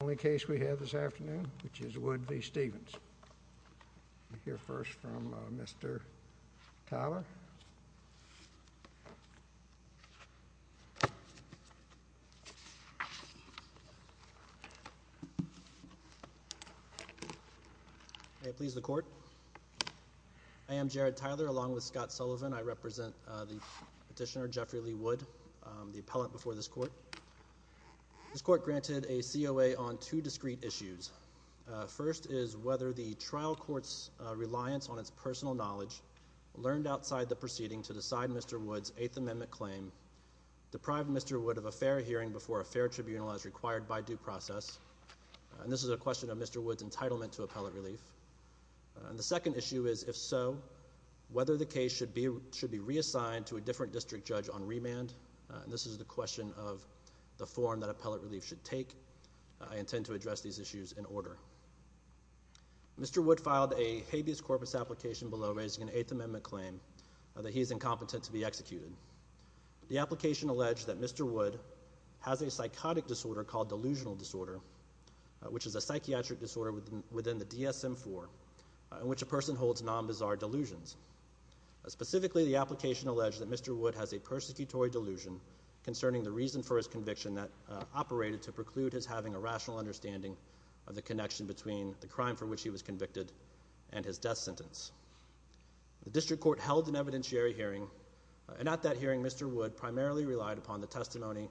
Only case we have this afternoon which is Wood v. Stephens. We'll hear first from Mr. Tyler. May it please the court. I am Jared Tyler along with Scott Sullivan. I represent the petitioner Jeffrey Lee Wood, the appellant before this court. This court granted a COA on two discrete issues. First is whether the trial court's reliance on its personal knowledge learned outside the proceeding to decide Mr. Wood's Eighth Amendment claim deprived Mr. Wood of a fair hearing before a fair tribunal as required by due process. And this is a question of Mr. Wood's entitlement to appellate relief. And the second issue is if so whether the case should be should be reassigned to a different district judge on remand. And this is the question of the form that appellate relief should take. I intend to address these issues in order. Mr. Wood filed a habeas corpus application below raising an Eighth Amendment claim that he's incompetent to be executed. The application alleged that Mr. Wood has a psychotic disorder called delusional disorder which is a psychiatric disorder within the DSM-IV in which a person holds non-bizarre delusions. Specifically the application alleged that Mr. Wood has a persecutory delusion concerning the reason for his conviction that operated to preclude his having a rational understanding of the connection between the crime for which he was convicted and his death sentence. The district court held an evidentiary hearing and at that hearing Mr. Wood primarily relied upon the testimony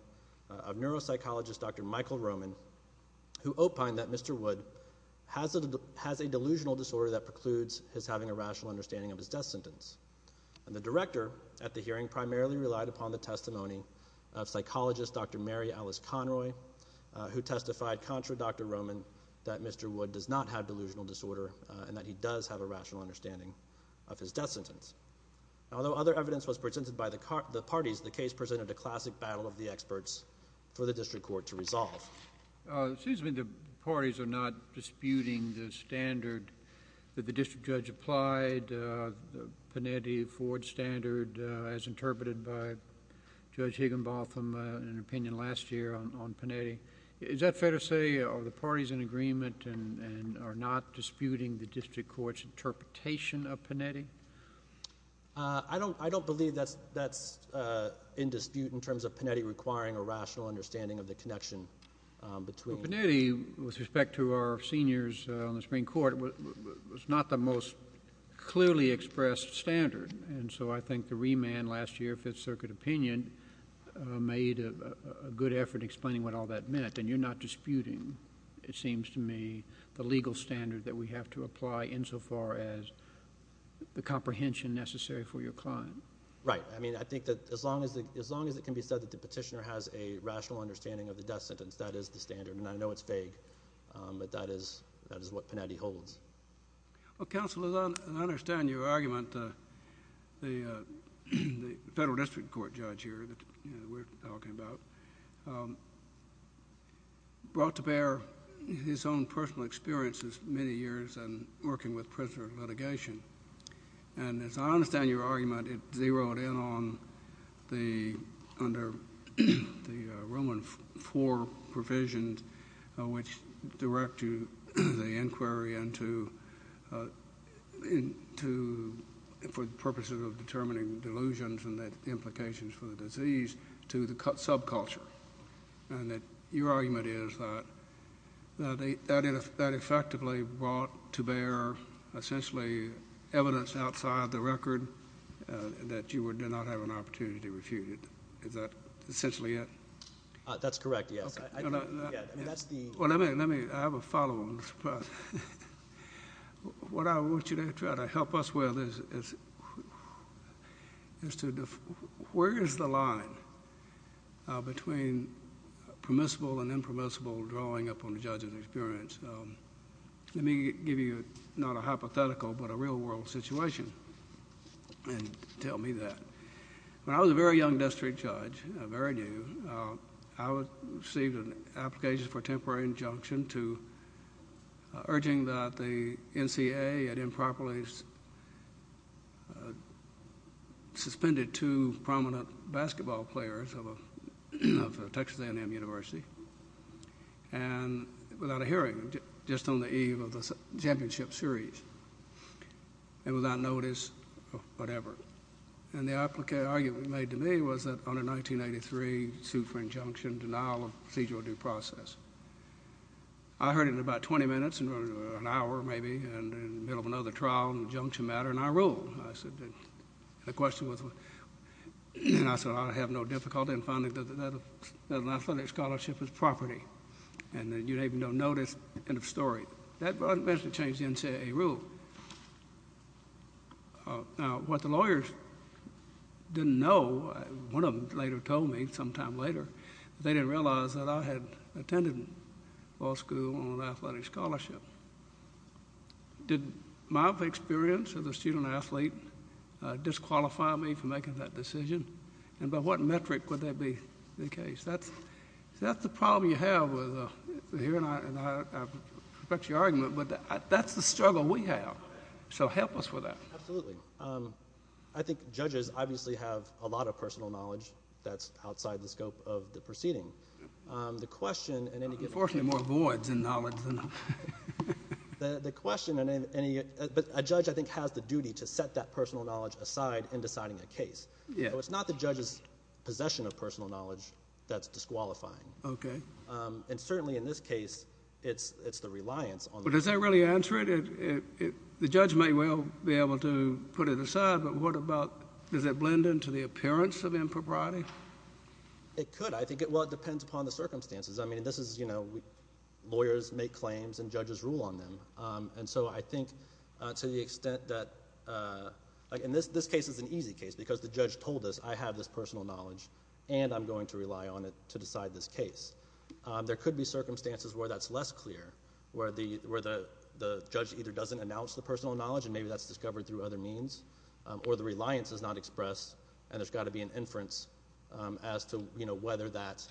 of neuropsychologist Dr. Michael Roman who opined that Mr. Wood has a delusional disorder that precludes his having a rational understanding of his death sentence. And the director at the hearing primarily relied upon the testimony of psychologist Dr. Mary Alice Conroy who testified contra Dr. Roman that Mr. Wood does not have delusional disorder and that he does have a rational understanding of his death sentence. Although other evidence was presented by the parties, the case presented a classic battle of the experts for the district court to resolve. It seems to me the parties are not disputing the standard that the district court has in its interpretation of Pinedi. Is that fair to say that the parties in agreement and are not disputing the district court's interpretation of Pinedi? I don't I don't believe that's that's in dispute in terms of Pinedi requiring a rational understanding of the connection between Pinedi with respect to our seniors on the Supreme Court was not the most clearly expressed standard and so I think the remand last year Fifth Circuit opinion made a good effort explaining what all that meant and you're not disputing it seems to me the legal standard that we have to apply insofar as the comprehension necessary for your client. Right I mean I think that as long as the as long as it can be said that the petitioner has a rational understanding of the death sentence that is the standard and I know it's vague but that is that is what Pinedi holds. Well counsel as I understand your argument the federal district court judge here that we're talking about brought to bear his own personal experiences many years and working with prisoner litigation and as I understand your argument it zeroed in on the under the Roman IV provisions which direct to the inquiry and to in to for the purposes of determining delusions and that implications for the disease to the cut subculture and that your argument is that they added that effectively brought to bear essentially evidence outside the record that you would do not have an essentially it that's correct yes well let me let me have a follow-on what I want you to try to help us with is is to where is the line between permissible and impermissible drawing up on the judge's experience let me give you not a hypothetical but a real-world situation and tell me that when I was a very young district judge a very new I was received an application for temporary injunction to urging that the NCAA had improperly suspended two prominent basketball players of a Texas A&M University and without a hearing just on the eve of the championship series and without notice or whatever and the applicant argument made to me was that on a 1983 suit for injunction denial of procedural due process I heard in about 20 minutes and an hour maybe and in the middle of another trial and junction matter and I ruled I said the question was and I said I have no difficulty in finding that an athletic scholarship is property and then you even don't notice end of story that wasn't meant to change NCAA rule now what the lawyers didn't know one of them later told me sometime later they didn't realize that I had attended law school on athletic scholarship did my experience of the student-athlete disqualify me for making that decision and by what metric would that be the case that's that's the problem you have that's the struggle we have so help us with that I think judges obviously have a lot of personal knowledge that's outside the scope of the proceeding the question and then you get more boards and knowledge than the question and any but a judge I think has the duty to set that personal knowledge aside in deciding a case yeah it's not the judge's possession of personal knowledge that's disqualifying okay and certainly in this case it's it's the reliance on but does that really answer it if the judge may well be able to put it aside but what about does it blend into the appearance of impropriety it could I think it well it depends upon the circumstances I mean this is you know lawyers make claims and judges rule on them and so I think to the extent that in this this case is an easy case because the judge told us I have this going to rely on it to decide this case there could be circumstances where that's less clear where the where the judge either doesn't announce the personal knowledge and maybe that's discovered through other means or the reliance is not expressed and there's got to be an inference as to you know whether that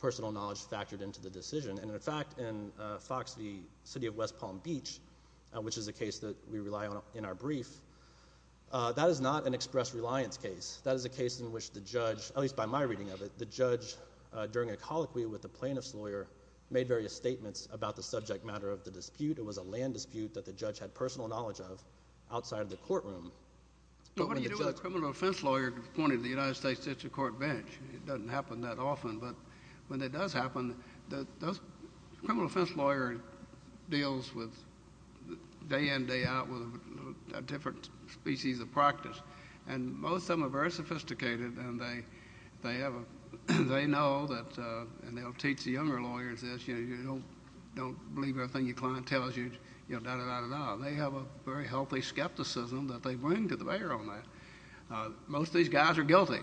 personal knowledge factored into the decision and in fact in Fox the city of West Palm Beach which is a case that we rely on in our brief that is not an express reliance case that is a case in which the judge at least by my reading of it the judge during a colloquy with the plaintiff's lawyer made various statements about the subject matter of the dispute it was a land dispute that the judge had personal knowledge of outside of the courtroom but what do you do a criminal offense lawyer appointed the United States District Court bench it doesn't happen that often but when it does happen that those criminal offense lawyer deals with day in day out with different species of practice and most of them are very sophisticated and they they ever they know that and they'll teach the younger lawyers this you don't don't believe everything your client tells you you know they have a very healthy skepticism that they bring to the mayor on that most these guys are guilty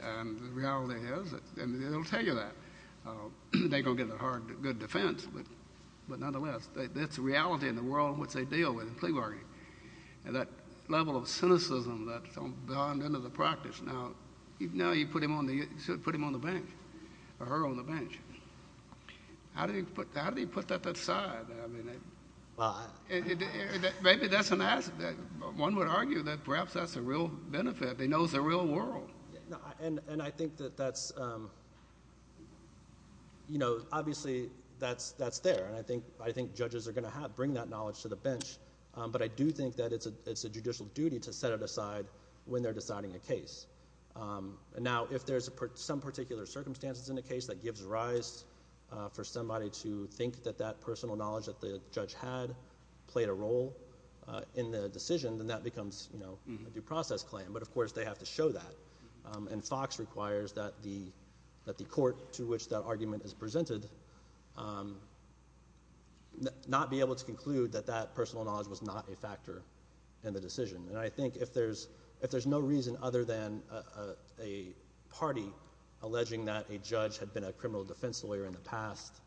and the reality is it'll tell you that they gonna get a hard good defense but but nonetheless that's a reality in the world which they deal with in plea and that level of cynicism that's gone into the practice now you know you put him on the you should put him on the bench or her on the bench how do you put how do you put that that side I mean maybe that's an asset that one would argue that perhaps that's a real benefit they knows the real world and and I think that that's you know obviously that's that's there and I think I think judges are gonna have bring that knowledge to the bench but I do think that it's a it's a judicial duty to set it aside when they're deciding a case and now if there's a part some particular circumstances in the case that gives rise for somebody to think that that personal knowledge that the judge had played a role in the decision then that becomes you know a due process claim but of course they have to show that and Fox requires that the that the not be able to conclude that that personal knowledge was not a factor in the decision and I think if there's if there's no reason other than a party alleging that a judge had been a criminal defense lawyer in the past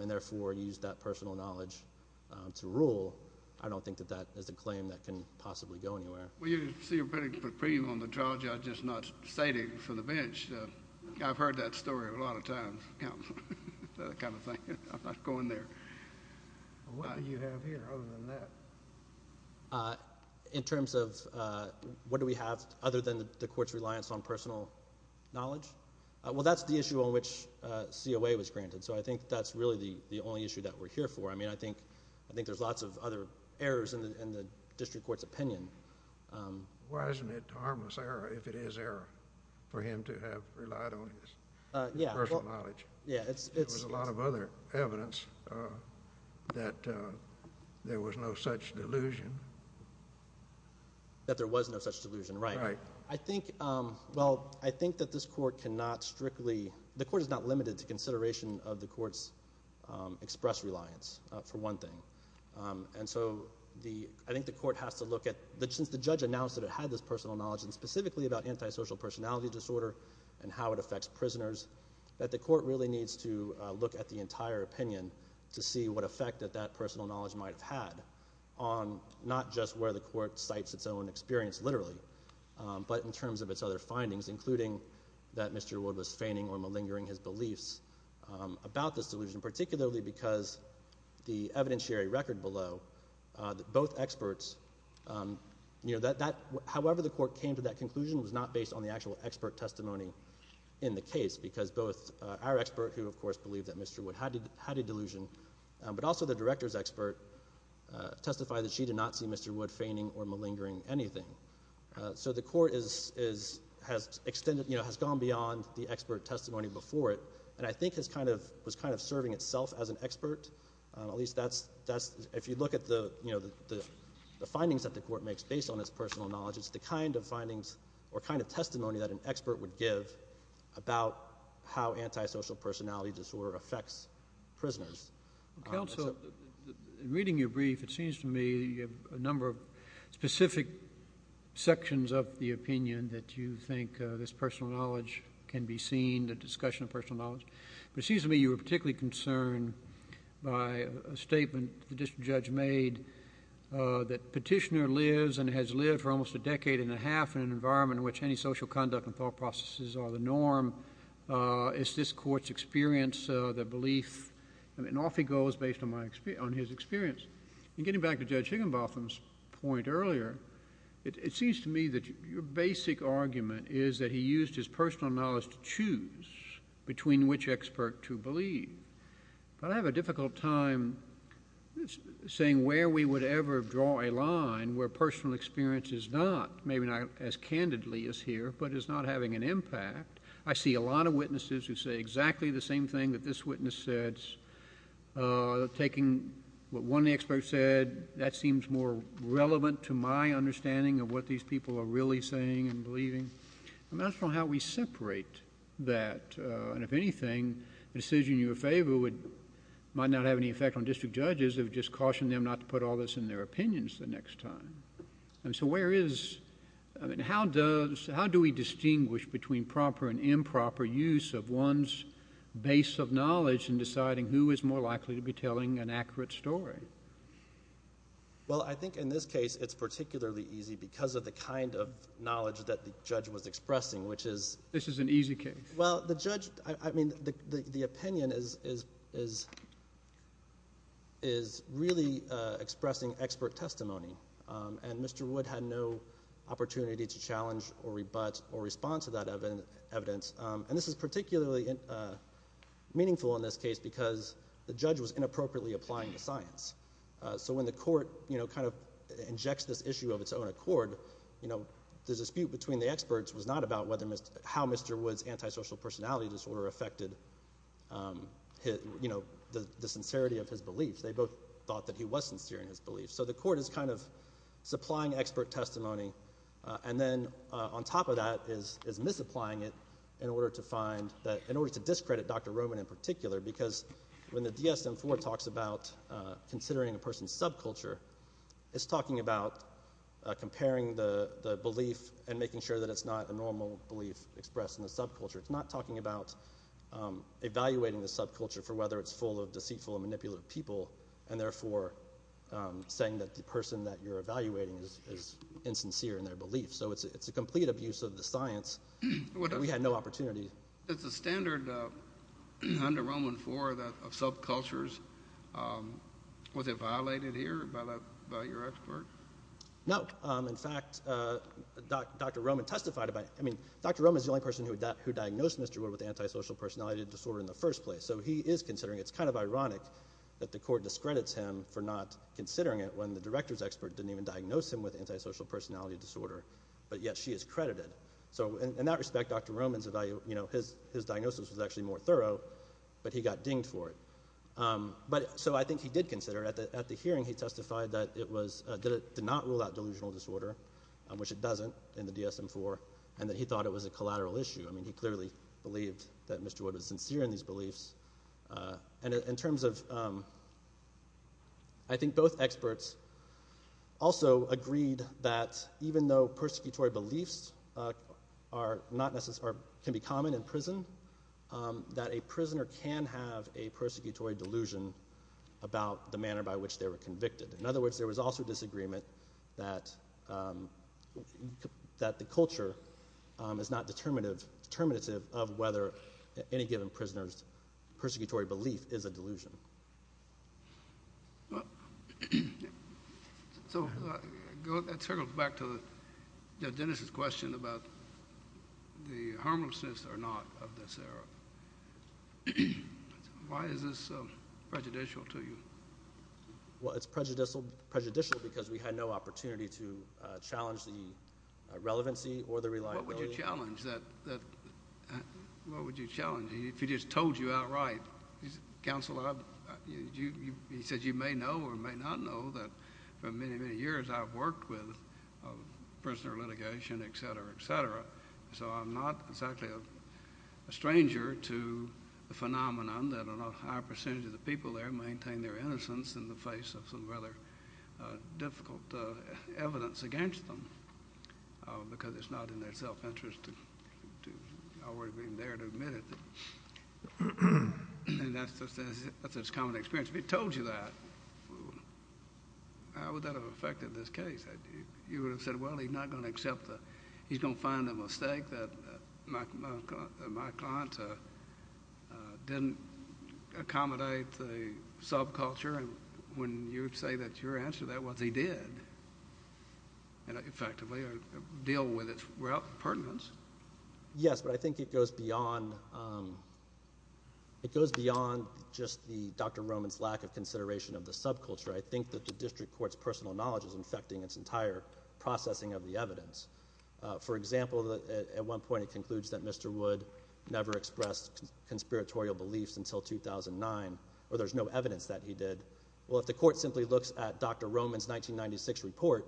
and therefore used that personal knowledge to rule I don't think that that is a claim that can possibly go anywhere well you see a pretty good preview on the kind of thing I'm not going there in terms of what do we have other than the courts reliance on personal knowledge well that's the issue on which COA was granted so I think that's really the the only issue that we're here for I mean I think I think there's lots of other errors in the district courts opinion why isn't it harmless error if it is error for him to have relied on yeah yeah it's a lot of other evidence that there was no such delusion that there was no such delusion right I think well I think that this court cannot strictly the court is not limited to consideration of the courts express reliance for one thing and so the I think the court has to look at the judge announced that had this personal knowledge and specifically about antisocial personality disorder and how it affects prisoners that the court really needs to look at the entire opinion to see what effect that that personal knowledge might have had on not just where the court sites its own experience literally but in terms of its other findings including that Mr. was feigning or malingering his beliefs about this delusion particularly because the evidentiary record below that both experts you know that that however the court came to that conclusion was not based on the actual expert testimony in the case because both our expert who of course believed that mr. would had had a delusion but also the director's expert testified that she did not see mr. wood feigning or malingering anything so the court is is has extended you know has gone beyond the expert testimony before it and I think has kind of was kind of serving itself as an expert at least that's that's if you look at the you know the findings that the court makes based on its personal knowledge it's the kind of findings or kind of testimony that an expert would give about how antisocial personality disorder affects prisoners council reading your brief it seems to me a number of specific sections of the opinion that you think this personal knowledge can be seen the discussion of personal knowledge but seems to me you were particularly concerned by a statement the district judge made that petitioner lives and has lived for almost a decade and a half in an environment in which any social conduct and thought processes are the norm it's this courts experience the belief and off he goes based on my experience on his experience and getting back to judge Higginbotham's point earlier it seems to me that your basic argument is that he used his personal knowledge to choose between which expert to believe but I have a difficult time saying where we would ever draw a line where personal experience is not maybe not as candidly as here but it's not having an impact I see a lot of witnesses who say exactly the same thing that this witness said taking what one expert said that seems more relevant to my understanding of what these people are really saying and believing I'm not sure how we separate that and if anything the decision you favor would might not have any effect on district judges have just cautioned them not to put all this in their opinions the next time and so where is I mean how does how do we distinguish between proper and improper use of one's base of knowledge and deciding who is more likely to be an accurate story well I think in this case it's particularly easy because of the kind of knowledge that the judge was expressing which is this is an easy case well the judge I mean the opinion is is is is really expressing expert testimony and Mr. Wood had no opportunity to challenge or rebut or respond to that evidence and this is particularly meaningful in this case because the judge was inappropriately applying the science so when the court you know kind of injects this issue of its own accord you know the dispute between the experts was not about whether Mr. how Mr. Woods antisocial personality disorder affected his you know the sincerity of his beliefs they both thought that he was sincere in his beliefs so the court is kind of supplying expert testimony and then on top of that is is misapplying it in order to discredit Dr. Roman in particular because when the DSM 4 talks about considering a person's subculture it's talking about comparing the belief and making sure that it's not a normal belief expressed in the subculture it's not talking about evaluating the subculture for whether it's full of deceitful manipulative people and therefore saying that the person that you're evaluating is insincere in their belief so it's it's a complete abuse of the science we had no opportunity it's a standard under Roman for that of subcultures was it violated here by your expert no in fact dr. Roman testified about I mean dr. Roman is the only person who that who diagnosed mr. were with antisocial personality disorder in the first place so he is considering it's kind of ironic that the court discredits him for not considering it when the director's expert didn't even diagnose him with antisocial personality disorder but yet she is credited so in that respect dr. Romans if I you know his diagnosis was actually more thorough but he got dinged for it but so I think he did consider at the hearing he testified that it was did it did not rule out delusional disorder which it doesn't in the DSM 4 and that he thought it was a collateral issue I mean he clearly believed that mr. wood was sincere in these beliefs and in terms of I think both experts also agreed that even though persecutory beliefs are not necessary can be common in prison that a prisoner can have a persecutory delusion about the manner by which they were convicted in other words there was also disagreement that that the culture is not determinative determinative of whether any given prisoners persecutory belief is a delusion so go back to the Genesis question about the harmless or not why is this prejudicial to you well it's prejudicial prejudicial because we had no opportunity to challenge the relevancy or the reliability challenge that what would you challenge if you just told you right he's counseled you he said you may know or may not know that for many many years I've worked with prisoner litigation etc etc so I'm not exactly a stranger to the phenomenon that a high percentage of the people there maintain their innocence in the face of some rather difficult evidence against them because it's not in their self-interest to always being there to admit it and that's just as it's common experience we told you that how would that have affected this case you would have said well he's not going to accept that he's gonna find a mistake that my client didn't accommodate the subculture and when you say that your answer that what they did and effectively deal with it well pertinence yes but I think it goes beyond it goes beyond just the dr. Roman's lack of consideration of the subculture I think that the district court's personal knowledge is infecting its entire processing of the evidence for example that at one point it concludes that mr. would never expressed conspiratorial beliefs until 2009 or there's no evidence that he did well if the court simply looks at dr. Roman's 1996 report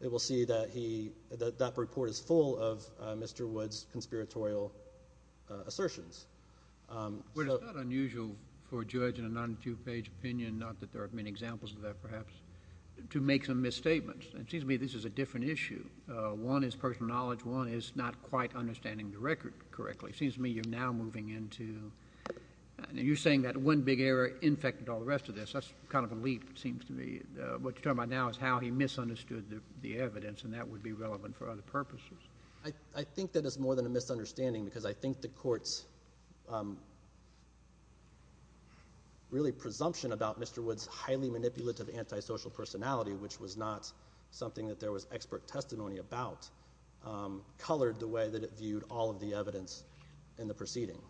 it will see that he that that report is full of mr. Woods conspiratorial assertions unusual for judge in a non two-page opinion not that there are many examples of that perhaps to make some misstatements it seems to me this is a different issue one is personal knowledge one is not quite understanding the record correctly seems me you're now moving into and you're saying that one big error infected all the rest of this that's kind of a leap it seems to me what you're talking about now is how he misunderstood the evidence and that would be relevant for other purposes I think that it's more than a misunderstanding because I think the courts really presumption about mr. Woods highly manipulative antisocial personality which was not something that there was expert testimony about colored the way that it viewed all of the evidence in the proceeding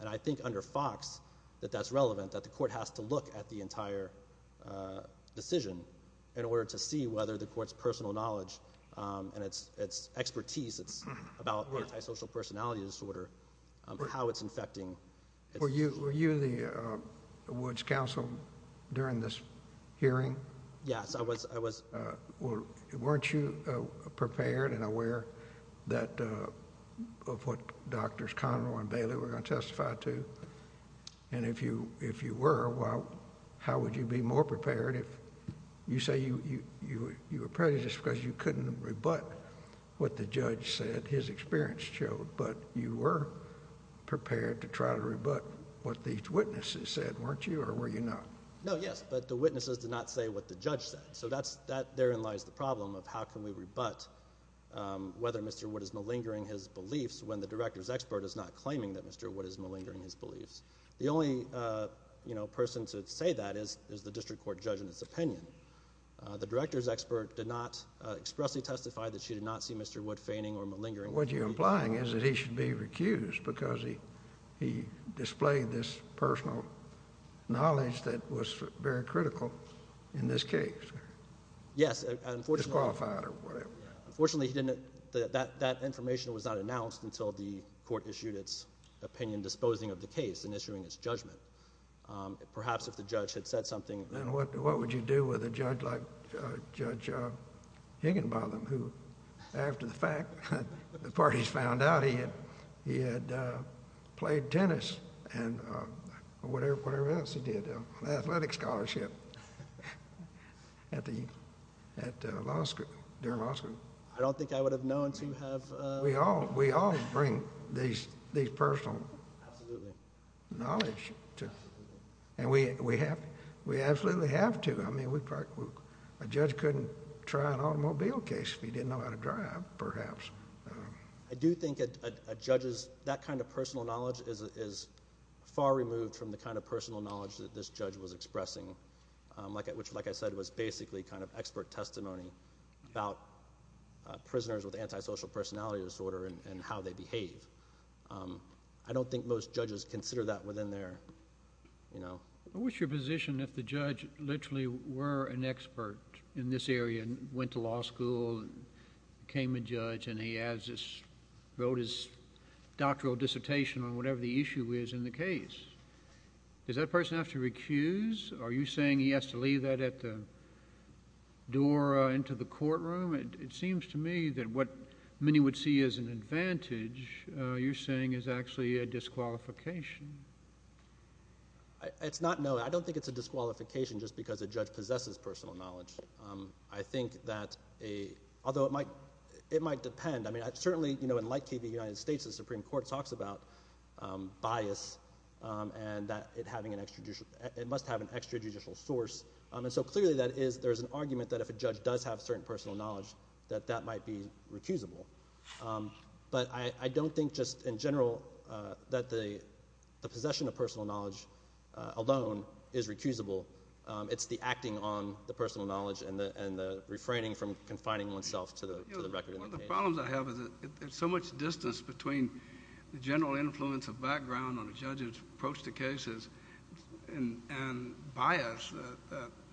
and I think under Fox that that's relevant that the court has to look at the entire decision in order to see whether the courts personal knowledge and it's it's expertise it's about social personality disorder how it's infecting were you were you the Woods counsel during this hearing yes I was I was weren't you prepared and aware that of what doctors Connell and Bailey were going to testify to and if you if you were well how would you be more prepared if you say you you you were prejudiced because you couldn't rebut what the judge said his experience showed but you were prepared to try to rebut what these witnesses said weren't you or were you not no yes but the witnesses did not say what the judge said so that's that therein lies the problem of how can we rebut whether mr. what is malingering his beliefs when the director's expert is not claiming that mr. what is malingering his beliefs the only you know person to say that is is the district court judge in its opinion the director's expert did not expressly testify that she did not see mr. what feigning or malingering what you're implying is that he should be recused because he he displayed this personal knowledge that was very critical in this case yes unfortunately he didn't that that information was not announced until the court issued its opinion disposing of the case and issuing its judgment perhaps if the judge had said something then what what would you do with a judge like judge Higginbotham who after the parties found out he had he had played tennis and whatever whatever else he did an athletic scholarship at the at law school during law school I don't think I would have known to have we all we all bring these these personal knowledge to and we we have we absolutely have to I mean we practice a judge couldn't try an absolute I do think it judges that kind of personal knowledge is far removed from the kind of personal knowledge that this judge was expressing like it which like I said was basically kind of expert testimony about prisoners with antisocial personality disorder and how they behave I don't think most judges consider that within their you know what's your position if the judge literally were an expert in this area and went to law school and became a judge and he has this wrote his doctoral dissertation on whatever the issue is in the case does that person have to recuse are you saying he has to leave that at the door into the courtroom it seems to me that what many would see as an advantage you're saying is actually a disqualification it's not no I don't think it's a disqualification just because a judge possesses personal knowledge I think that a although it might it might depend I mean I've certainly you know in like TV United States the Supreme Court talks about bias and that it having an extra it must have an extra judicial source and so clearly that is there's an argument that if a judge does have certain personal knowledge that that might be recusable but I don't think just in general that the the possession of personal knowledge alone is recusable it's the acting on the personal knowledge and the and the refraining from confining oneself to the record I have is it so much distance between the general influence of background on the judges approach to cases and and bias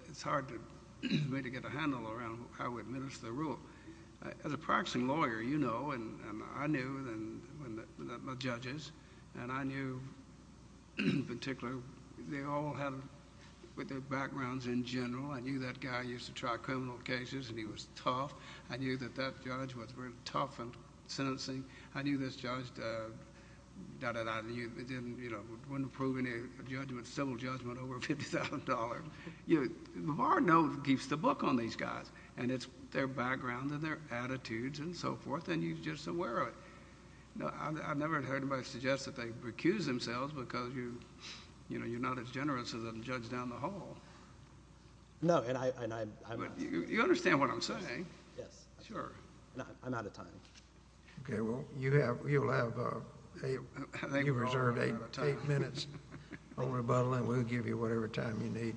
it's hard to get a handle around how we administer rule as a practicing lawyer you know and I knew and my judges and I knew in particular they all have with their backgrounds in general I knew that guy used to try criminal cases and he was tough I knew that that judge was very tough and sentencing I knew this judge doubted either you didn't you know wouldn't approve any judgment civil judgment over $50,000 you know keeps the book on these guys and it's their background and their attitudes and so forth and you just aware of it no I've never heard anybody suggest that they recuse themselves because you you know you're not as generous as a judge down the hall no and I you understand what I'm saying yes sure I'm out of time okay well you have you'll have a you reserved eight minutes on rebuttal and we'll give you whatever time you need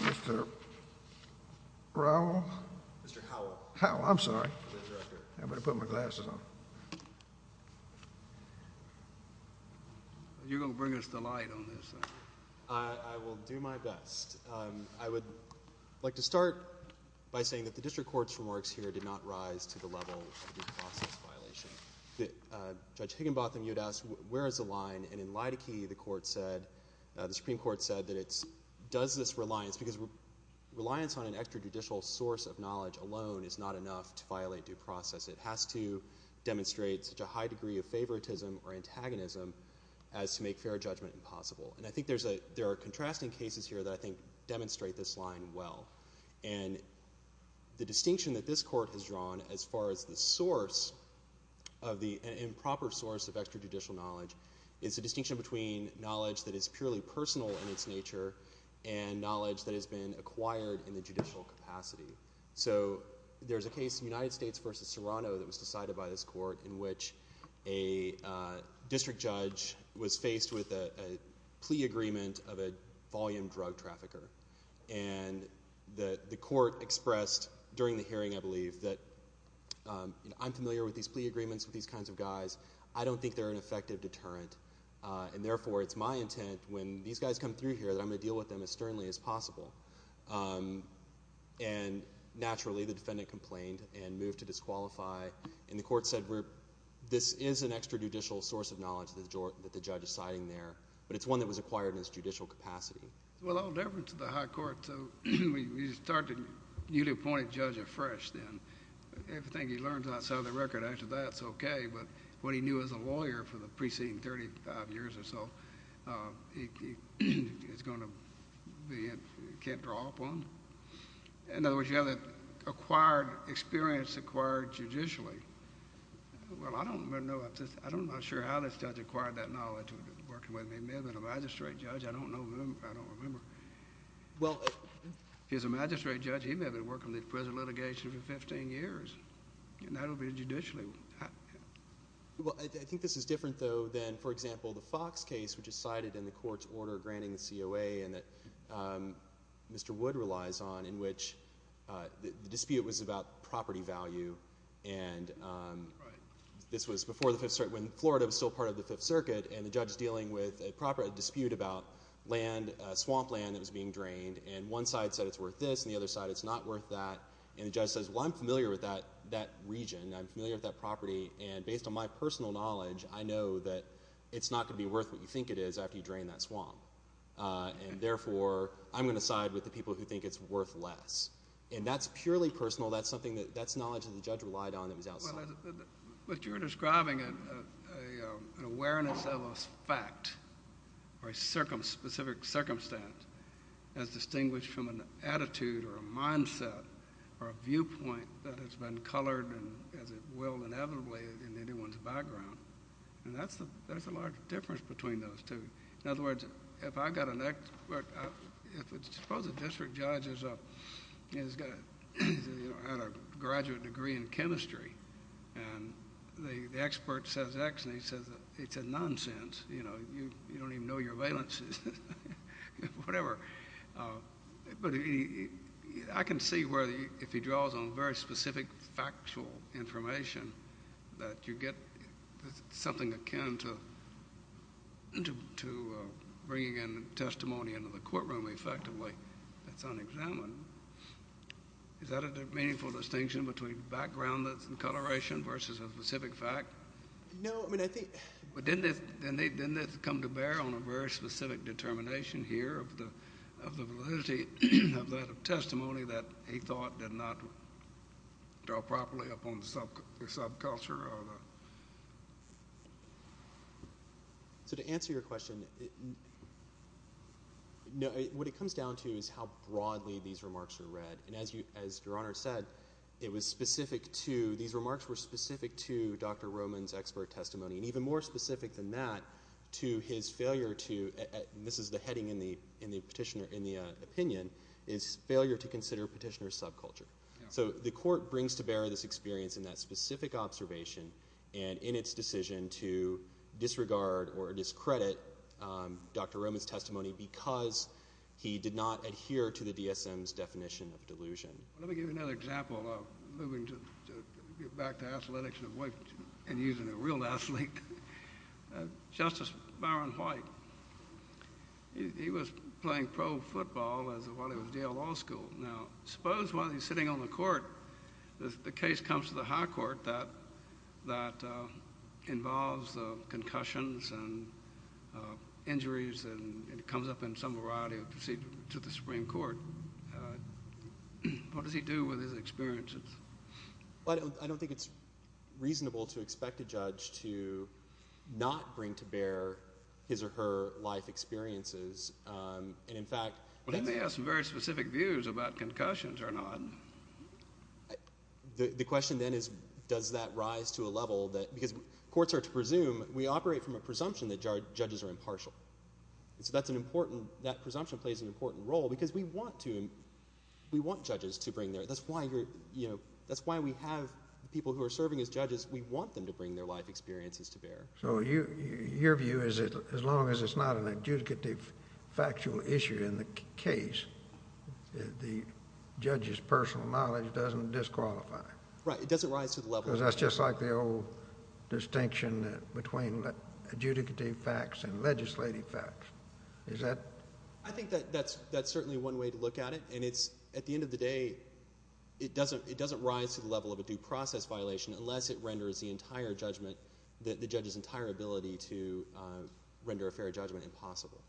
mr. Raul how I'm sorry I'm gonna put my glasses on you're gonna bring us the light on this I will do my best I would like to start by saying that the judge Higginbotham you'd ask where is the line and in light of key the court said the Supreme Court said that it's does this reliance because we're reliance on an extrajudicial source of knowledge alone is not enough to violate due process it has to demonstrate such a high degree of favoritism or antagonism as to make fair judgment impossible and I think there's a there are contrasting cases here that I think demonstrate this line well and the distinction that this of the improper source of extrajudicial knowledge it's a distinction between knowledge that is purely personal in its nature and knowledge that has been acquired in the judicial capacity so there's a case in United States versus Toronto that was decided by this court in which a district judge was faced with a plea agreement of a volume drug trafficker and that the court expressed during the hearing I believe that I'm familiar with these plea agreements with these kinds of guys I don't think they're an effective deterrent and therefore it's my intent when these guys come through here that I'm gonna deal with them as sternly as possible and naturally the defendant complained and moved to disqualify in the court said group this is an extrajudicial source of knowledge that the judge is citing there but it's one that was acquired in judicial capacity well all different to the high court so you started you appointed judge afresh then everything he learns outside of the record after that's okay but what he knew as a lawyer for the preceding 35 years or so it's gonna be it can't draw upon in other words you have that acquired experience acquired judicially well I don't know I don't know sure how this judge acquired that knowledge working with me may have been a magistrate judge I don't know remember well here's a magistrate judge he may have been working with present litigation for 15 years and that'll be judicially well I think this is different though than for example the Fox case which is cited in the court's order granting the COA and that mr. wood relies on in which the dispute was about property value and this was before the fifth circuit when Florida was still of the Fifth Circuit and the judge is dealing with a proper dispute about land swamp land that was being drained and one side said it's worth this and the other side it's not worth that and the judge says well I'm familiar with that that region I'm familiar with that property and based on my personal knowledge I know that it's not gonna be worth what you think it is after you drain that swamp and therefore I'm gonna side with the people who think it's worth less and that's purely personal that's something that that's knowledge of the judge relied on it was outside but you're describing an awareness of a fact or a specific circumstance as distinguished from an attitude or a mindset or a viewpoint that has been colored and as it will inevitably in anyone's background and that's the there's a large difference between those two in other words if I got an expert if it's supposed to district judges up he's got a graduate degree in chemistry and the expert says X and he says it's a nonsense you know you don't even know your valences whatever but he I can see where the if he draws on very specific factual information that you get something akin to bringing in testimony into the courtroom effectively that's unexamined is that a meaningful distinction between background that's in coloration versus a specific fact no I mean I think but didn't it then they didn't come to bear on a very specific determination here of the of the validity of that of testimony that he thought did not draw properly upon the subculture so to answer your question no what it comes down to is how broadly these remarks are read and as you as your honor said it was specific to these remarks were specific to dr. Roman's expert testimony and even more specific than that to his failure to this is the heading in the in the petitioner in the opinion is failure to consider petitioner subculture so the court brings to bear this experience in that specific observation and in its decision to disregard or discredit dr. Roman's testimony because he did not adhere to the DSM's definition of delusion let me give you another example of moving to get back to athletics and avoid and using a real athlete justice Byron white he was playing pro football as a while it was Yale Law School now suppose while he's sitting on the court the case comes to the High Court that that involves concussions and injuries and it comes up in some variety of procedure to the Supreme Court what does he do with his experiences but I don't think it's reasonable to expect a judge to not bring to bear his or her life experiences and in fact let me ask some specific views about concussions or not the question then is does that rise to a level that because courts are to presume we operate from a presumption that judges are impartial so that's an important that presumption plays an important role because we want to we want judges to bring there that's why you're you know that's why we have people who are serving as judges we want them to bring their life experiences to bear so you your view is it as long as it's not an adjudicative factual issue in the case the judge's personal knowledge doesn't disqualify right it doesn't rise to the level that's just like the old distinction between adjudicative facts and legislative facts is that I think that that's that's certainly one way to look at it and it's at the end of the day it doesn't it doesn't rise to the level of a due process violation unless it renders the entire judgment that the judge's entire ability to render a fair judgment impossible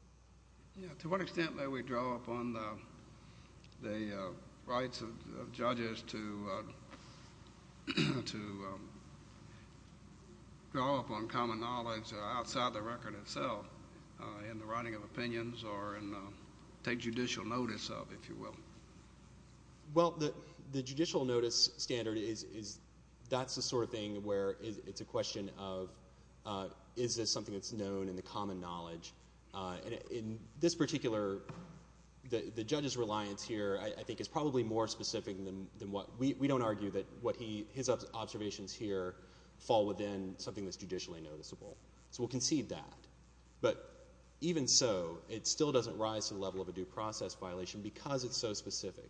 to what extent that we draw upon the rights of judges to to draw upon common knowledge outside the record itself in the writing of opinions or and take judicial notice of if you will well the the judicial notice standard is that's the sort of thing where it's a is this something that's known in the common knowledge in this particular the judge's reliance here I think it's probably more specific than what we don't argue that what he his observations here fall within something that's judicially noticeable so we'll concede that but even so it still doesn't rise to the level of a due process violation because it's so specific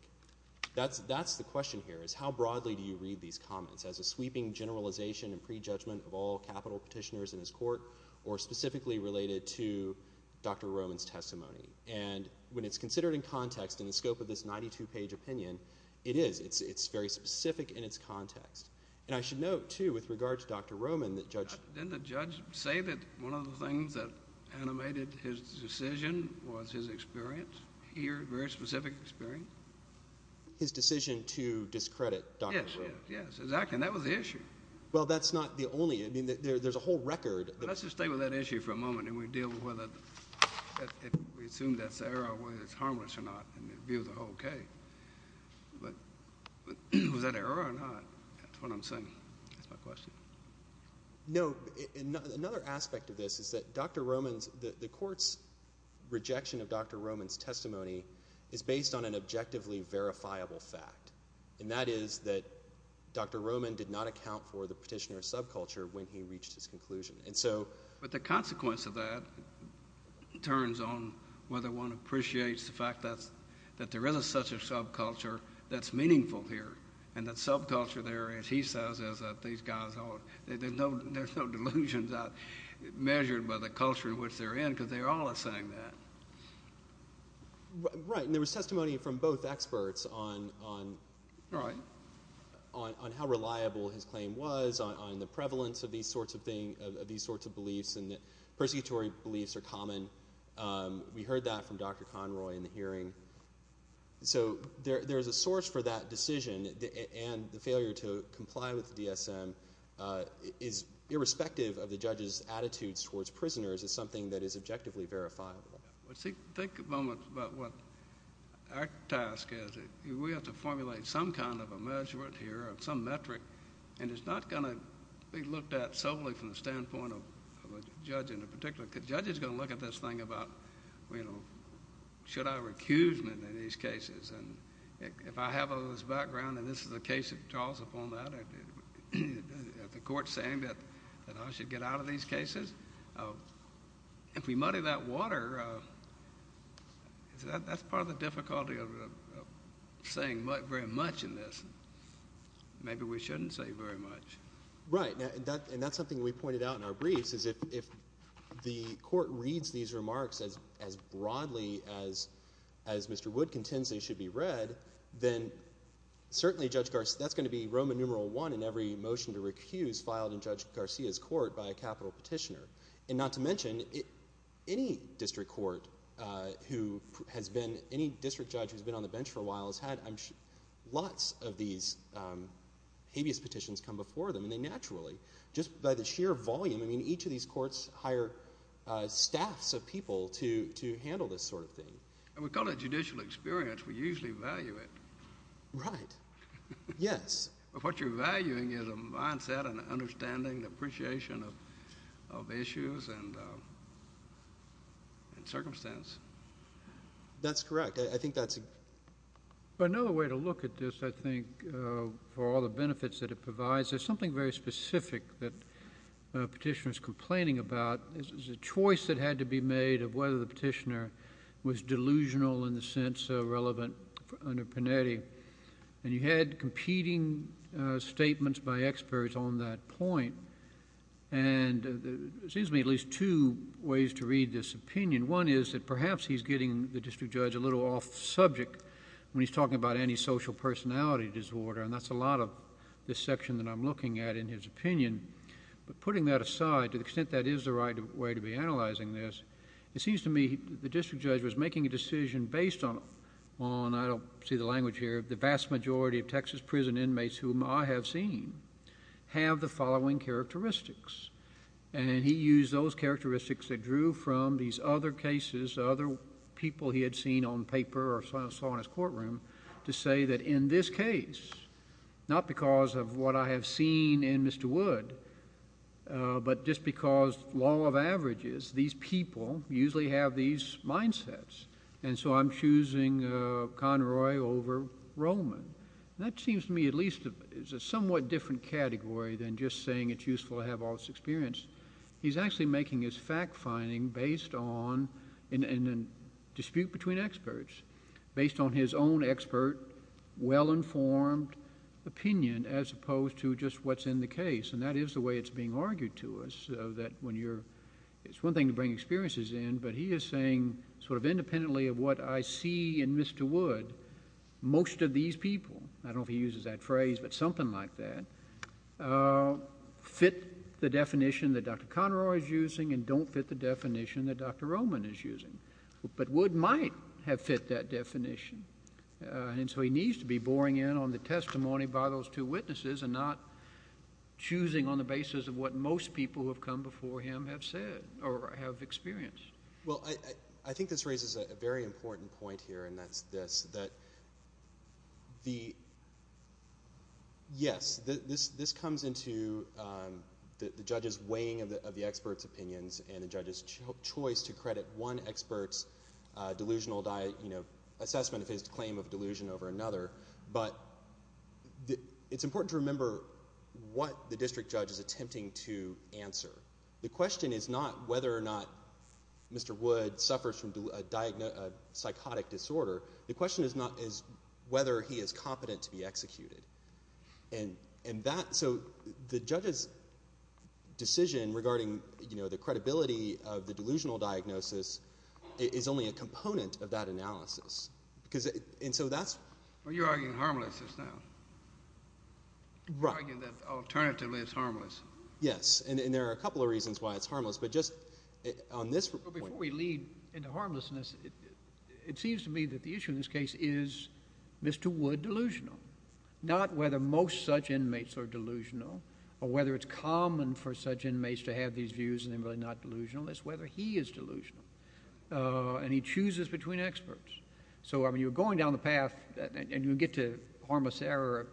that's that's the question here is how broadly do you read these comments as a sweeping generalization and prejudgment of all capital petitioners in his court or specifically related to dr. Roman's testimony and when it's considered in context in the scope of this 92 page opinion it is it's it's very specific in its context and I should note too with regard to dr. Roman that judge didn't the judge say that one of the things that animated his decision was his experience here very specific experience his decision to discredit yes yes exactly that was the issue well that's not the only I mean that there's a whole record let's just stay with that issue for a moment and we deal with whether we assume that's error whether it's harmless or not and it view the whole okay but was that error or not that's what I'm saying that's my question no another aspect of this is that dr. Roman's the courts rejection of dr. Roman's testimony is based on an objectively verifiable fact and that is that dr. Roman did not account for the petitioner subculture when he reached his conclusion and so but the consequence of that turns on whether one appreciates the fact that's that there is a such a subculture that's meaningful here and that subculture there is he says is that these guys are there's no there's no delusions out measured by the culture in which they're in because they're all a saying that right there was testimony from both experts on on right on on how reliable his claim was on the prevalence of these sorts of thing of these sorts of beliefs and that persecutory beliefs are common we heard that from dr. Conroy in the hearing so there's a source for that decision and the failure to comply with the DSM is irrespective of the judges attitudes towards prisoners is something that is objectively verifiable think a moment about what our task is we have to formulate some kind of a measurement here of some metric and it's not going to be looked at solely from the standpoint of a judge in a particular judge is going to look at this thing about you know should I recuse me in these cases and if I have all this background and this is a case of Charles upon that at the court saying that I should get out of these cases if we muddy that water that's part of the difficulty of saying what very much in this maybe we shouldn't say very much right and that and that's something we pointed out in our briefs is if the court reads these remarks as as broadly as as mr. wood contends they should be read then certainly judge Garst that's going to be Roman numeral one in every motion to recuse filed in judge Garcia's court by a capital petitioner and not to mention it any district court who has been any district judge has been on the bench for a while has had I'm sure lots of these habeas petitions come before them and they naturally just by the sheer volume I mean each of these courts hire staffs of people to to handle this sort of thing and we call it experience we usually value it right yes what you're valuing is a mindset and understanding the appreciation of of issues and circumstance that's correct I think that's another way to look at this I think for all the benefits that it provides there's something very specific that petitioners complaining about this is a choice that had to be made of whether the petitioner was delusional in the sense of relevant under Panetti and you had competing statements by experts on that point and it seems to me at least two ways to read this opinion one is that perhaps he's getting the district judge a little off subject when he's talking about antisocial personality disorder and that's a lot of this section that I'm looking at in his opinion but putting that aside to the extent that is the right way to be analyzing this it seems to me the district judge's opinion based on on I don't see the language here the vast majority of Texas prison inmates whom I have seen have the following characteristics and he used those characteristics that drew from these other cases other people he had seen on paper or saw in his courtroom to say that in this case not because of what I have seen in Mr. Wood but just because law of averages these people usually have these mindsets and so I'm choosing Conroy over Roman that seems to me at least is a somewhat different category than just saying it's useful to have all this experience he's actually making his fact-finding based on in a dispute between experts based on his own expert well-informed opinion as opposed to just what's in the case and that is the way it's being argued to us that when you're it's one thing to bring experiences in but he is saying sort of independently of what I see in Mr. Wood most of these people I don't he uses that phrase but something like that fit the definition that dr. Conroy is using and don't fit the definition that dr. Roman is using but would might have fit that definition and so he needs to be those two witnesses and not choosing on the basis of what most people have come before him have said or I have experienced well I I think this raises a very important point here and that's this that the yes this this comes into the judges weighing of the experts opinions and the judges choice to credit one experts delusional diet you know assessment of his claim of delusion over another but it's important to remember what the district judge is attempting to answer the question is not whether or not mr. wood suffers from a diagnosis psychotic disorder the question is not is whether he is competent to be executed and and that so the judges decision regarding you know the credibility of the delusional diagnosis is only a component of that analysis because it and so that's what you're arguing harmless is now right you know alternatively it's harmless yes and there are a couple of reasons why it's harmless but just on this report we lead into harmlessness it seems to me that the issue in this case is mr. wood delusional not whether most such inmates are delusional or whether it's common for such inmates to have these views and they're really not delusional is whether he is delusional and he chooses between experts so I mean you're going down the path and you get to harmless error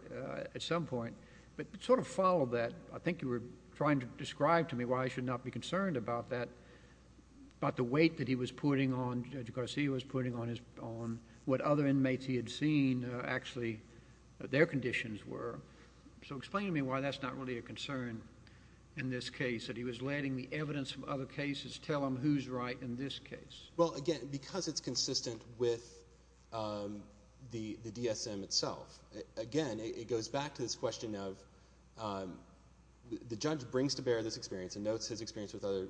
at some point but sort of follow that I think you were trying to describe to me why I should not be concerned about that about the weight that he was putting on judge Garcia was putting on his own what other inmates he had seen actually their conditions were so explain to me why that's not really a concern in this case that he was letting the evidence from other cases tell him who's right in this well again because it's consistent with the the DSM itself again it goes back to this question of the judge brings to bear this experience and notes his experience with other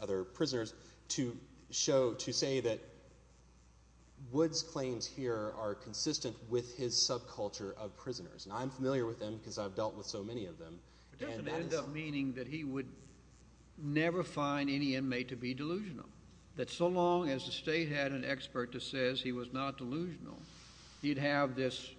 other prisoners to show to say that woods claims here are consistent with his subculture of prisoners and I'm familiar with them because I've dealt with so many of them meaning that he would never find any inmate to be delusional that so long as the state had an expert to says he was not delusional you'd have this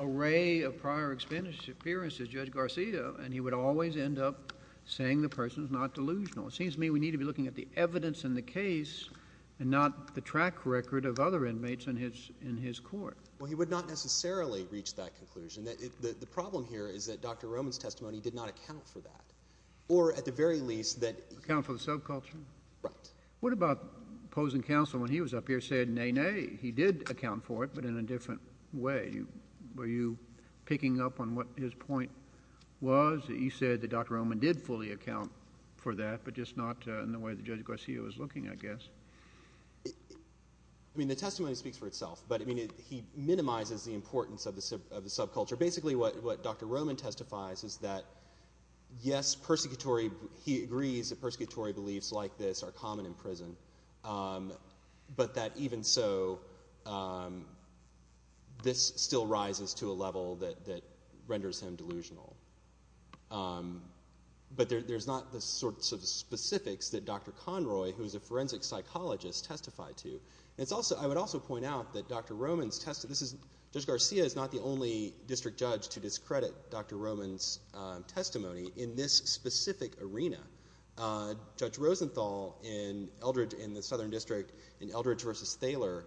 array of prior expenditure appearances judge Garcia and he would always end up saying the person's not delusional it seems to me we need to be looking at the evidence in the case and not the track record of other inmates in his in his court well he would not necessarily reach that conclusion that the problem here is that dr. Roman's testimony did not account for that or at the very least that account for the subculture right what about opposing counsel when he was up here said nay nay he did account for it but in a different way were you picking up on what his point was he said that dr. Roman did fully account for that but just not in the way the judge Garcia was looking I guess I mean the testimony speaks for itself but I mean he minimizes the importance of the subculture basically what dr. Roman testifies is that yes persecutory he agrees that persecutory beliefs like this are common in prison but that even so this still rises to a level that renders him delusional but there's not the sorts of specifics that dr. Conroy who's a forensic psychologist testified to it's also I would also point out that dr. Roman's tested this is just Garcia is not the only district judge to discredit dr. Roman's testimony in this specific arena judge Rosenthal in Eldridge in the southern district in Eldridge versus Thaler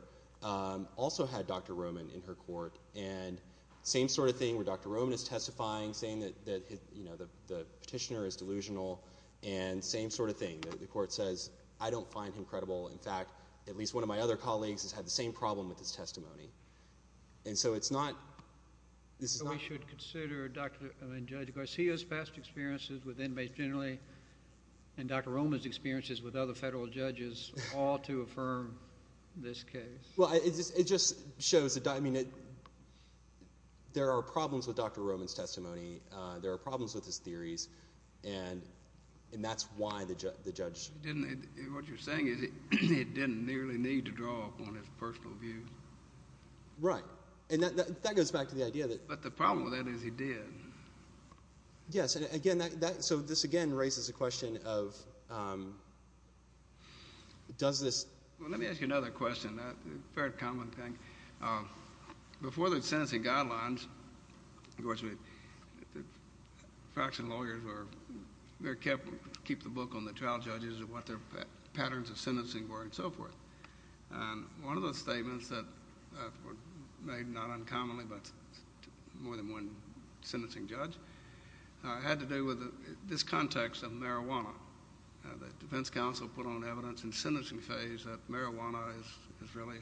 also had dr. Roman in her court and same sort of thing where dr. Roman is testifying saying that that you know the petitioner is delusional and same sort of thing that the court says I don't find him credible in fact at least one of my other colleagues has had the same problem with this testimony and so it's not this is not should consider dr. Garcia's past experiences with inmates generally and dr. Roman's experiences with other federal judges all to affirm this case well it just shows that I mean it there are problems with dr. Roman's testimony there are problems with his theories and and that's why the judge didn't what you're saying is it didn't nearly need to draw upon his personal view right and that goes back to the idea that but the problem with that is he did yes and again that so this again raises a question of does this let me ask you another question that very common thing before that sentencing guidelines of course we fraction lawyers were very careful to keep the book on the trial judges or what their patterns of sentencing were and so forth and one of the statements that were made not uncommonly but more than one sentencing judge I had to do with this context of marijuana the Defense Council put on evidence in sentencing phase that marijuana is is really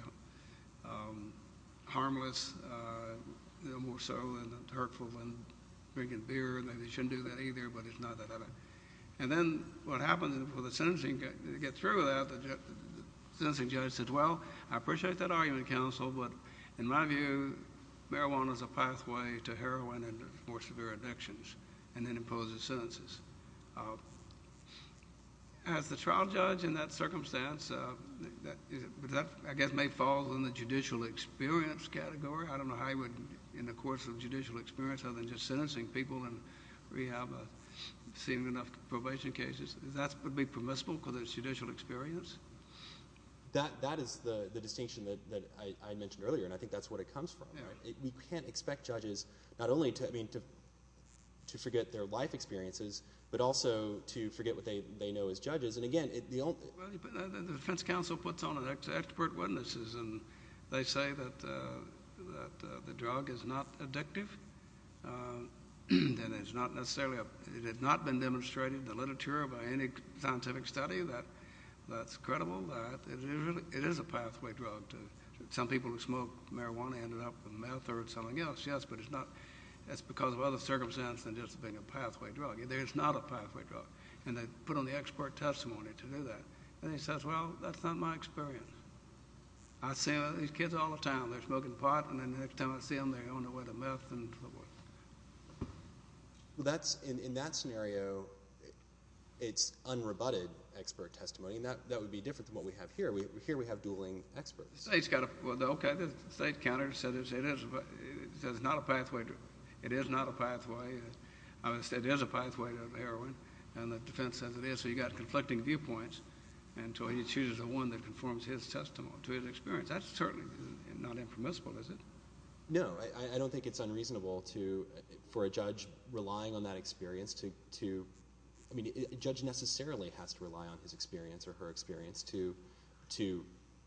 harmless more so and hurtful when drinking beer and maybe shouldn't do that either but it's not that other and then what happened for the sentencing to get through without sensing judge said well I appreciate that argument counsel but in my view marijuana is a pathway to heroin and more severe addictions and then imposes sentences as the trial judge in that circumstance that I guess may fall in the judicial experience category I don't know how you would in the course of judicial experience other than just sentencing people and we have seen enough probation cases that's would be permissible because it's judicial experience that that is the distinction that I mentioned earlier and I think that's what it comes from we can't expect judges not only to I mean to to forget their life experiences but also to forget what they they know as judges and again the Defense Council puts on an expert witnesses and they say that the drug is not addictive and it's not necessarily it had not been demonstrated the literature by any scientific study that that's credible that it is a pathway drug to some people who smoke marijuana ended up with meth or something else yes but it's not that's because of other circumstance than just being a pathway drug there's not a pathway drug and they put on the expert testimony to do that and he says well that's not my experience I say these kids all the time they're smoking pot and then next time I see them they it's unrebutted expert testimony and that that would be different than what we have here we here we have dueling experts he's got a okay the state counters said it is but there's not a pathway to it is not a pathway I would say there's a pathway to heroin and the defense says it is so you got conflicting viewpoints until he chooses a one that conforms his testimony to his experience that's certainly not impermissible is it no I don't think it's unreasonable to for a judge relying on that experience to to I mean judge necessarily has to rely on his experience or her experience to to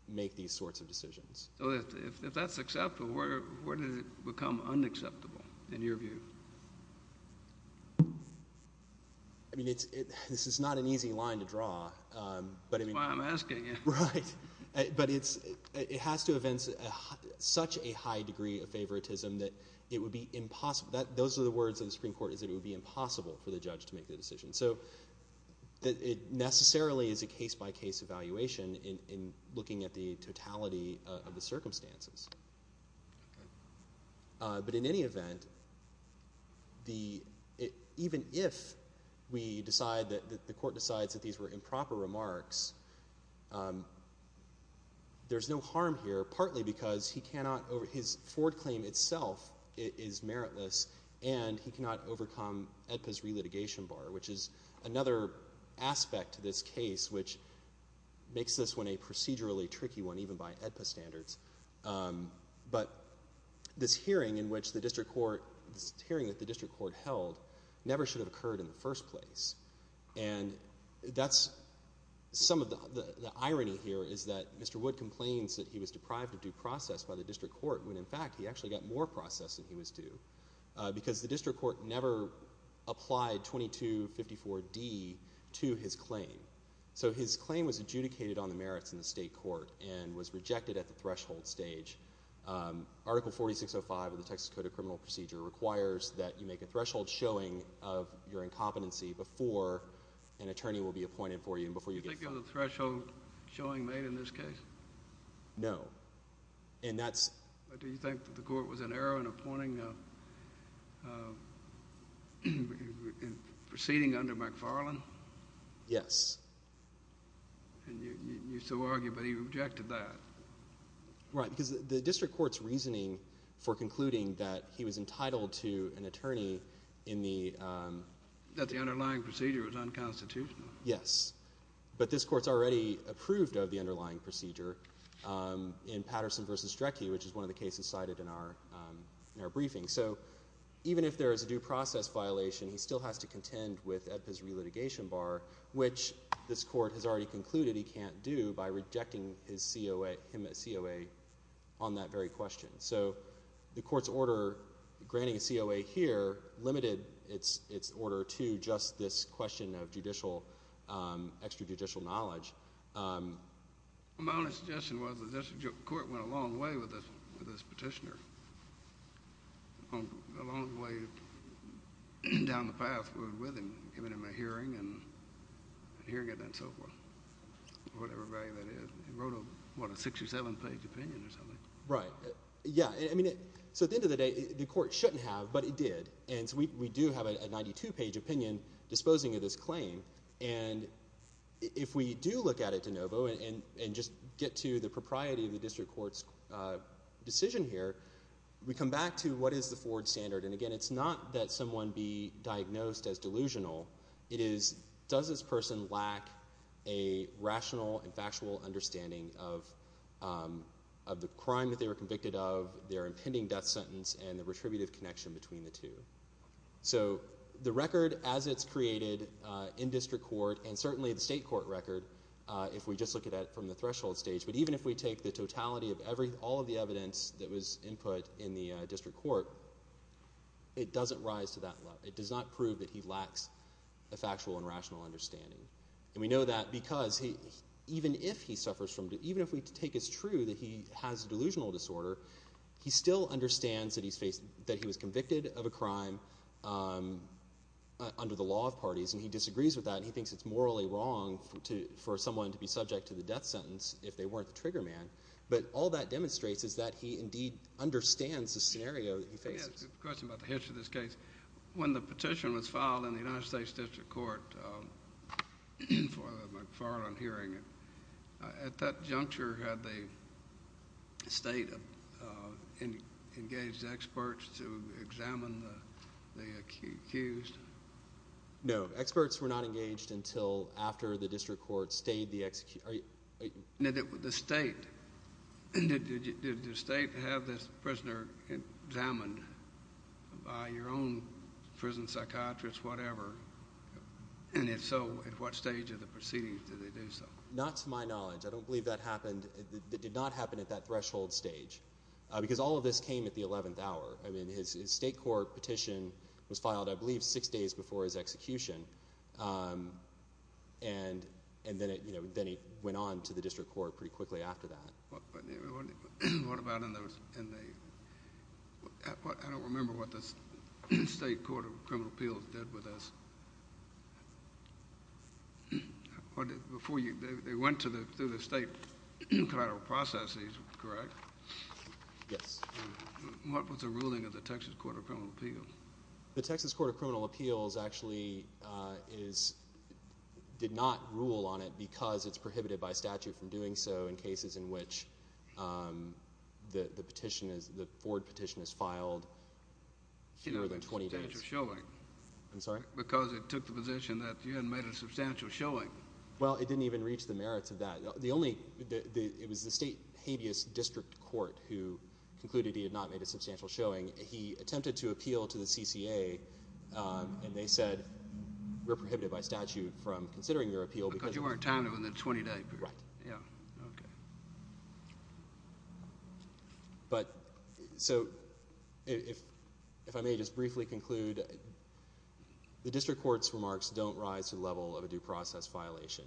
make these sorts of decisions if that's acceptable where where did it become unacceptable in your view I mean it's it this is not an easy line to draw but I mean I'm asking you right but it's it has to events such a high degree of favoritism that it would be impossible that those are the words of the Supreme Court is it would be impossible for the judge to make the decision so that it necessarily is a case-by-case evaluation in looking at the totality of the circumstances but in any event the even if we decide that the court decides that these were improper remarks there's no harm here partly because he cannot over his Ford claim itself it is meritless and he cannot overcome at this relitigation bar which is another aspect to this case which makes this one a procedurally tricky one even by standards but this hearing in which the district court hearing at the district court held never should have occurred in the first place and that's some of the irony here is that mr. wood complains that he was deprived of due process by the district court when in fact he actually got more process than he was due because the district court never applied 2254 D to his claim so his claim was adjudicated on the merits in the state court and was rejected at the threshold stage article 4605 of the Texas Code of Criminal Procedure requires that you make a threshold showing of your incompetency before an attorney will be appointed for you and threshold showing made in this case no and that's do you think that the court was an error in appointing proceeding under McFarland yes you so argue but he rejected that right because the district courts reasoning for concluding that he was entitled to an attorney in the that the underlying procedure was unconstitutional yes but this court's already approved of the underlying procedure in Patterson vs. Drecke which is one of the cases cited in our in our briefing so even if there is a due process violation he still has to contend with at this re-litigation bar which this court has already concluded he can't do by rejecting his COA him at COA on that very question so the courts order granting a COA here limited its its order to just this question of judicial extrajudicial knowledge My only suggestion was that the district court went a long way with this petitioner along the way down the path we were with him giving him a hearing and hearing it and so forth whatever value that is he wrote a what a six or seven page opinion or something right yeah I mean it so at the end of the day the court shouldn't have but it did and we do have a 92 page opinion disposing of this claim and if we do look at it de novo and and just get to the propriety of the district courts decision here we come back to what is the Ford standard and again it's not that someone be diagnosed as delusional it is does this person lack a rational factual understanding of the crime they were convicted of their impending death sentence and the retributive connection between the two so the record as it's created in district court and certainly the state court record if we just look at it from the threshold stage but even if we take the totality of every all of the evidence that was input in the district court it doesn't rise to that level it does not prove that he lacks a factual and rational understanding we know that because he even if he suffers from it even if we take is true that he has delusional disorder he still understands that he's faced that he was convicted of a crime under the law of parties and he disagrees with that he thinks it's morally wrong to for someone to be subject to the death sentence if they weren't the trigger man but all that demonstrates is that he indeed understands the scenario this case when the petition was filed in the United I'm hearing it at that juncture had the state of any engaged experts to examine the accused no experts were not engaged until after the district court stayed the execute I know that with the state and did you did the state have this prisoner examined by your own prison psychiatrist whatever and if so at what stage of the proceedings not to my knowledge I don't believe that happened it did not happen at that threshold stage because all of this came at the eleventh hour his state court petition was filed I believe six days before his execution and and then it went on to the district court pretty quickly after that what about in those and they I don't remember what this state court of criminal appeals did with us before you they went to the through the state processes correct what was the ruling of the Texas Court of Criminal Appeals the Texas Court of Criminal Appeals actually is did not rule on it because it's the petition is the Ford petition is filed you know the 20-day showing I'm sorry because it took the position that you had made a substantial showing well it didn't even reach the merits of that the only it was the state habeas district court who concluded he had not made a substantial showing he attempted to appeal to the CCA and they said we're prohibited by statute from considering your appeal because you weren't talented in the 20-day period yeah but so if if I may just briefly conclude the district courts remarks don't rise to the level of a due process violation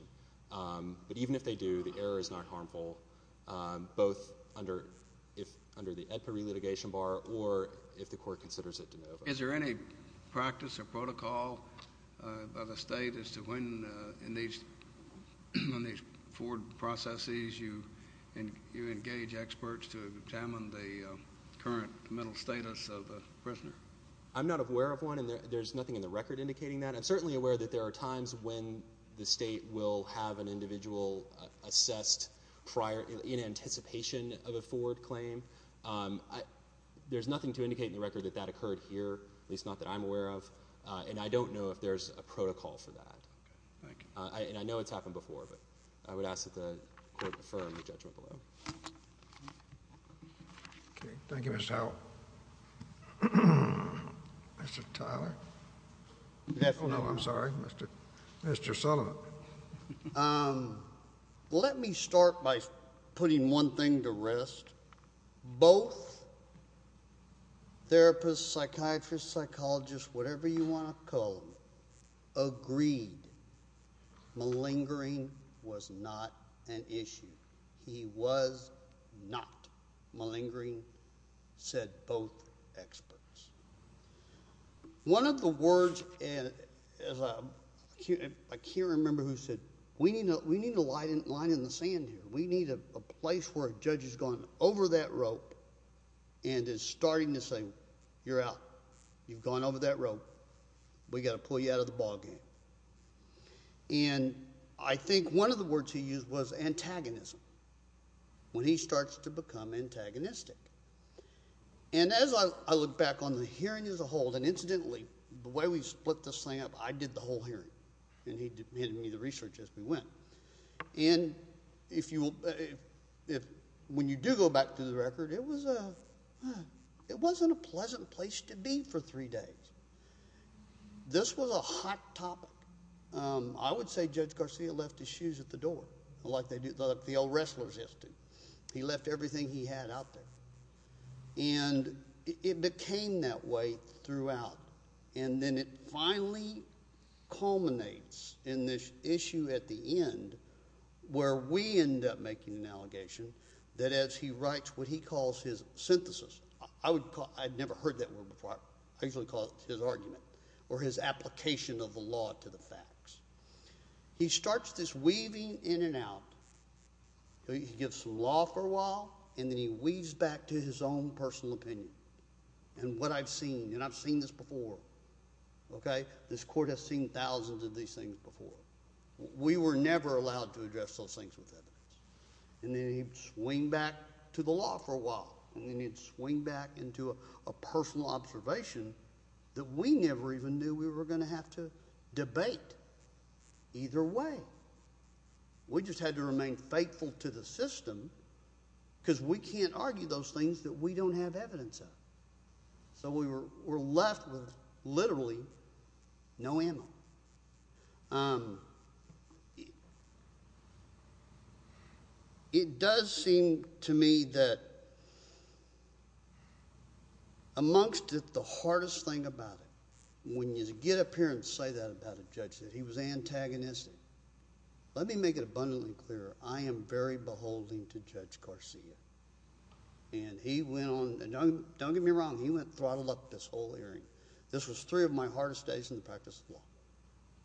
but even if they do the error is not harmful both under if under the EDPA re-litigation bar or if the court Ford processes you and you engage experts to examine the current mental status of the prisoner I'm not aware of one and there's nothing in the record indicating that I'm certainly aware that there are times when the state will have an individual assessed prior in anticipation of a forward claim there's nothing to indicate in the record that that occurred here at least not that I'm and I don't know if there's a protocol for that I and I know it's happened before but I would ask that the firm the judgment below thank you miss how mr. Tyler yes oh no I'm sorry mr. mr. Sullivan let me start by putting one thing to rest both therapists psychiatrists psychologists whatever you want to call agreed malingering was not an issue he was not malingering said both experts one of the words and I can't remember who said we need to we need a place where judges gone over that rope and is starting to say you're out you've gone over that rope we got to pull you out of the ballgame and I think one of the words he used was antagonism when he starts to become antagonistic and as I look back on the hearing as a whole then incidentally the way we split this thing up I did the whole hearing and he did me the research as we went and if you if when you do go back to the record it was a it wasn't a pleasant place to be for three days this was a hot topic I would say judge Garcia left his shoes at the door like they did the old wrestlers history he left everything he had out there and it became that way throughout and then it finally culminates in this issue at the end where we end up making an allegation that as he writes what he calls his synthesis I would call I've never heard that word before I usually call it his argument or his application of the law to the facts he starts this weaving in and out he gives some law for a while and then he weaves back to his own personal opinion and what I've seen and I've seen this before okay this court has seen thousands of these things before we were never allowed to address those things with evidence and then he'd swing back to the law for a while and then he'd swing back into a personal observation that we never even knew we were going to have to debate either way we just had to remain faithful to the system because we can't argue those things that we don't have evidence of so we were we're left with literally no ammo it does seem to me that amongst it the hardest thing about it when you get up here and say that about a judge that he was antagonistic let me make it abundantly clear I am very beholden to judge Garcia and he went on don't get me wrong he went throttled up this whole hearing this was three of my hardest days in the practice of law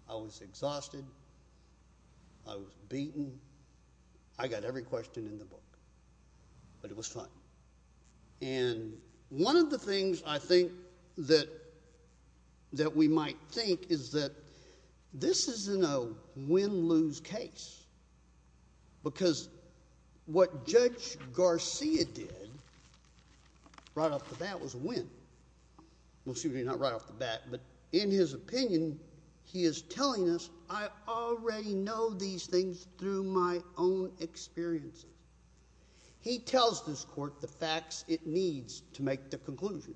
I was exhausted I was beaten I got every question in the book but it was fun and one of the things I think that that we might think is that this is in a win-lose case because what judge Garcia did right off the bat was win we'll see what you're not right off the bat but in his opinion he is telling us I already know these things through my own experiences he tells this court the facts it needs to make the conclusion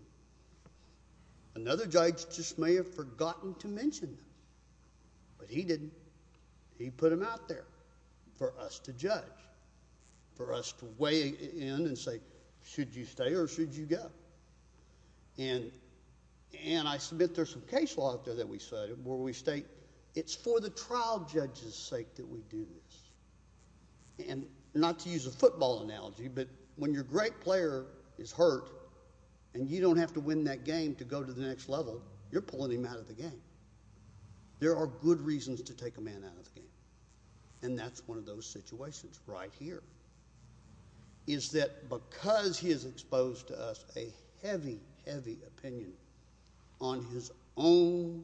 another judge just may have forgotten to he didn't he put him out there for us to judge for us to weigh in and say should you stay or should you go and and I submit there's some case law out there that we said where we state it's for the trial judges sake that we do this and not to use a football analogy but when your great player is hurt and you don't have to win that game to go to the next level you're pulling him out of the game there are good reasons to take a man out of the game and that's one of those situations right here is that because he is exposed to us a heavy heavy opinion on his own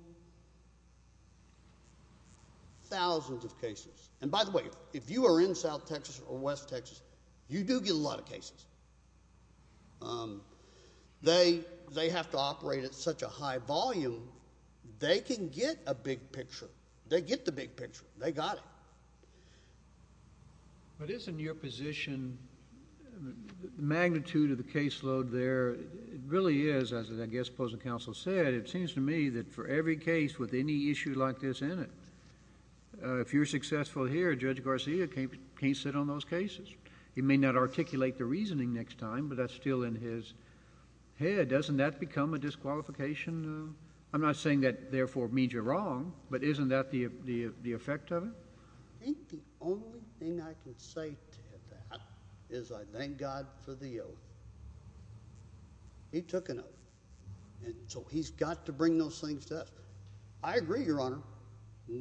thousands of cases and by the way if you are in South Texas or West Texas you do get a lot of cases they they have to operate at such a high volume they can get a big picture they get the big picture they got it but isn't your position the magnitude of the caseload there really is as I guess opposing counsel said it seems to me that for every case with any issue like this in it if you're successful here judge Garcia can't sit on those cases he may not articulate the reasoning next time but that's still in his head doesn't that become a disqualification I'm not saying that therefore means you're wrong but isn't that the effect of it? I think the only thing I can say to that is I thank God for the oath. He took an oath and so he's got to bring those things to us I agree your honor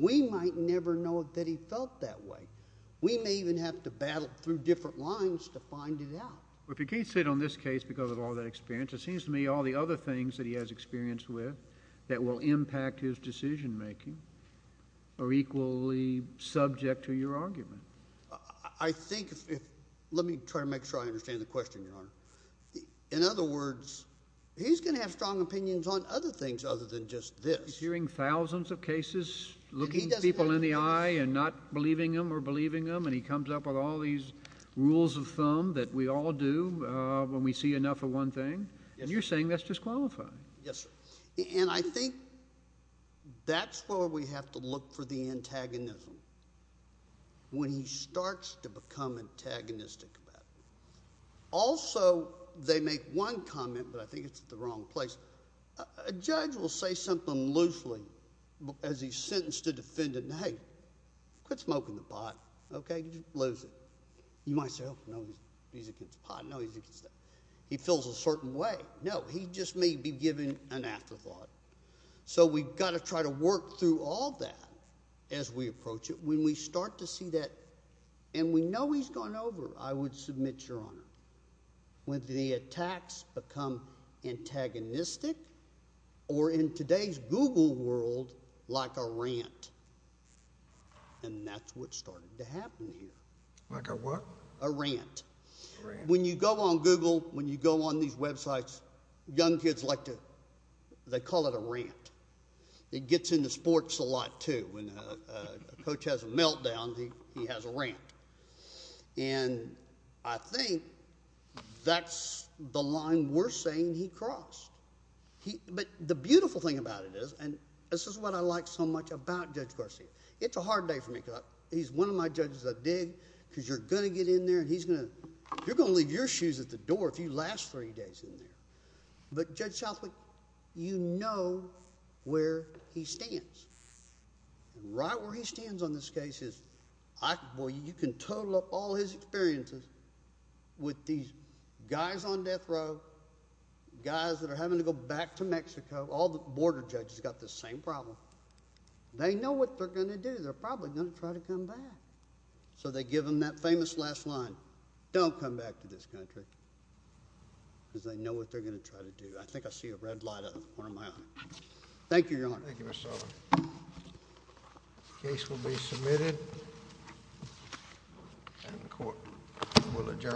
we might never know that he felt that way we may even have to battle through different lines to find it out. Well if you can't sit on this case because of all that experience it seems to me all the other things that he has experienced with that will impact his decision-making are equally subject to your argument. I think if let me try to make sure I understand the question your honor in other words he's gonna have strong opinions on other things other than just this. He's hearing thousands of cases looking people in the eye and not believing them or believing them and he comes up with all these rules of thumb that we all do when we see enough of one thing and you're saying that's disqualifying. Yes and I think that's where we have to look for the antagonism when he starts to become antagonistic about it. Also they make one comment but I think it's the wrong place a judge will say something loosely as he's sentenced a he feels a certain way no he just may be giving an afterthought so we've got to try to work through all that as we approach it when we start to see that and we know he's gone over I would submit your honor with the attacks become antagonistic or in today's Google world like a rant and that's what when you go on Google when you go on these websites young kids like to they call it a rant it gets into sports a lot too when coach has a meltdown he has a rant and I think that's the line we're saying he crossed he but the beautiful thing about it is and this is what I like so much about Judge Garcia it's a hard day for me because he's one of my judges I dig because you're gonna get in there and he's gonna you're gonna leave your shoes at the door if you last three days in there but Judge Southwick you know where he stands right where he stands on this case is I boy you can total up all his experiences with these guys on death row guys that are having to go back to Mexico all the border judges got the same problem they know what they're going to do they're famous last line don't come back to this country because they know what they're going to try to do I think I see a red light on one of my own thank you your honor. Thank you Mr. Sullivan. The case will be submitted and the court will adjourn.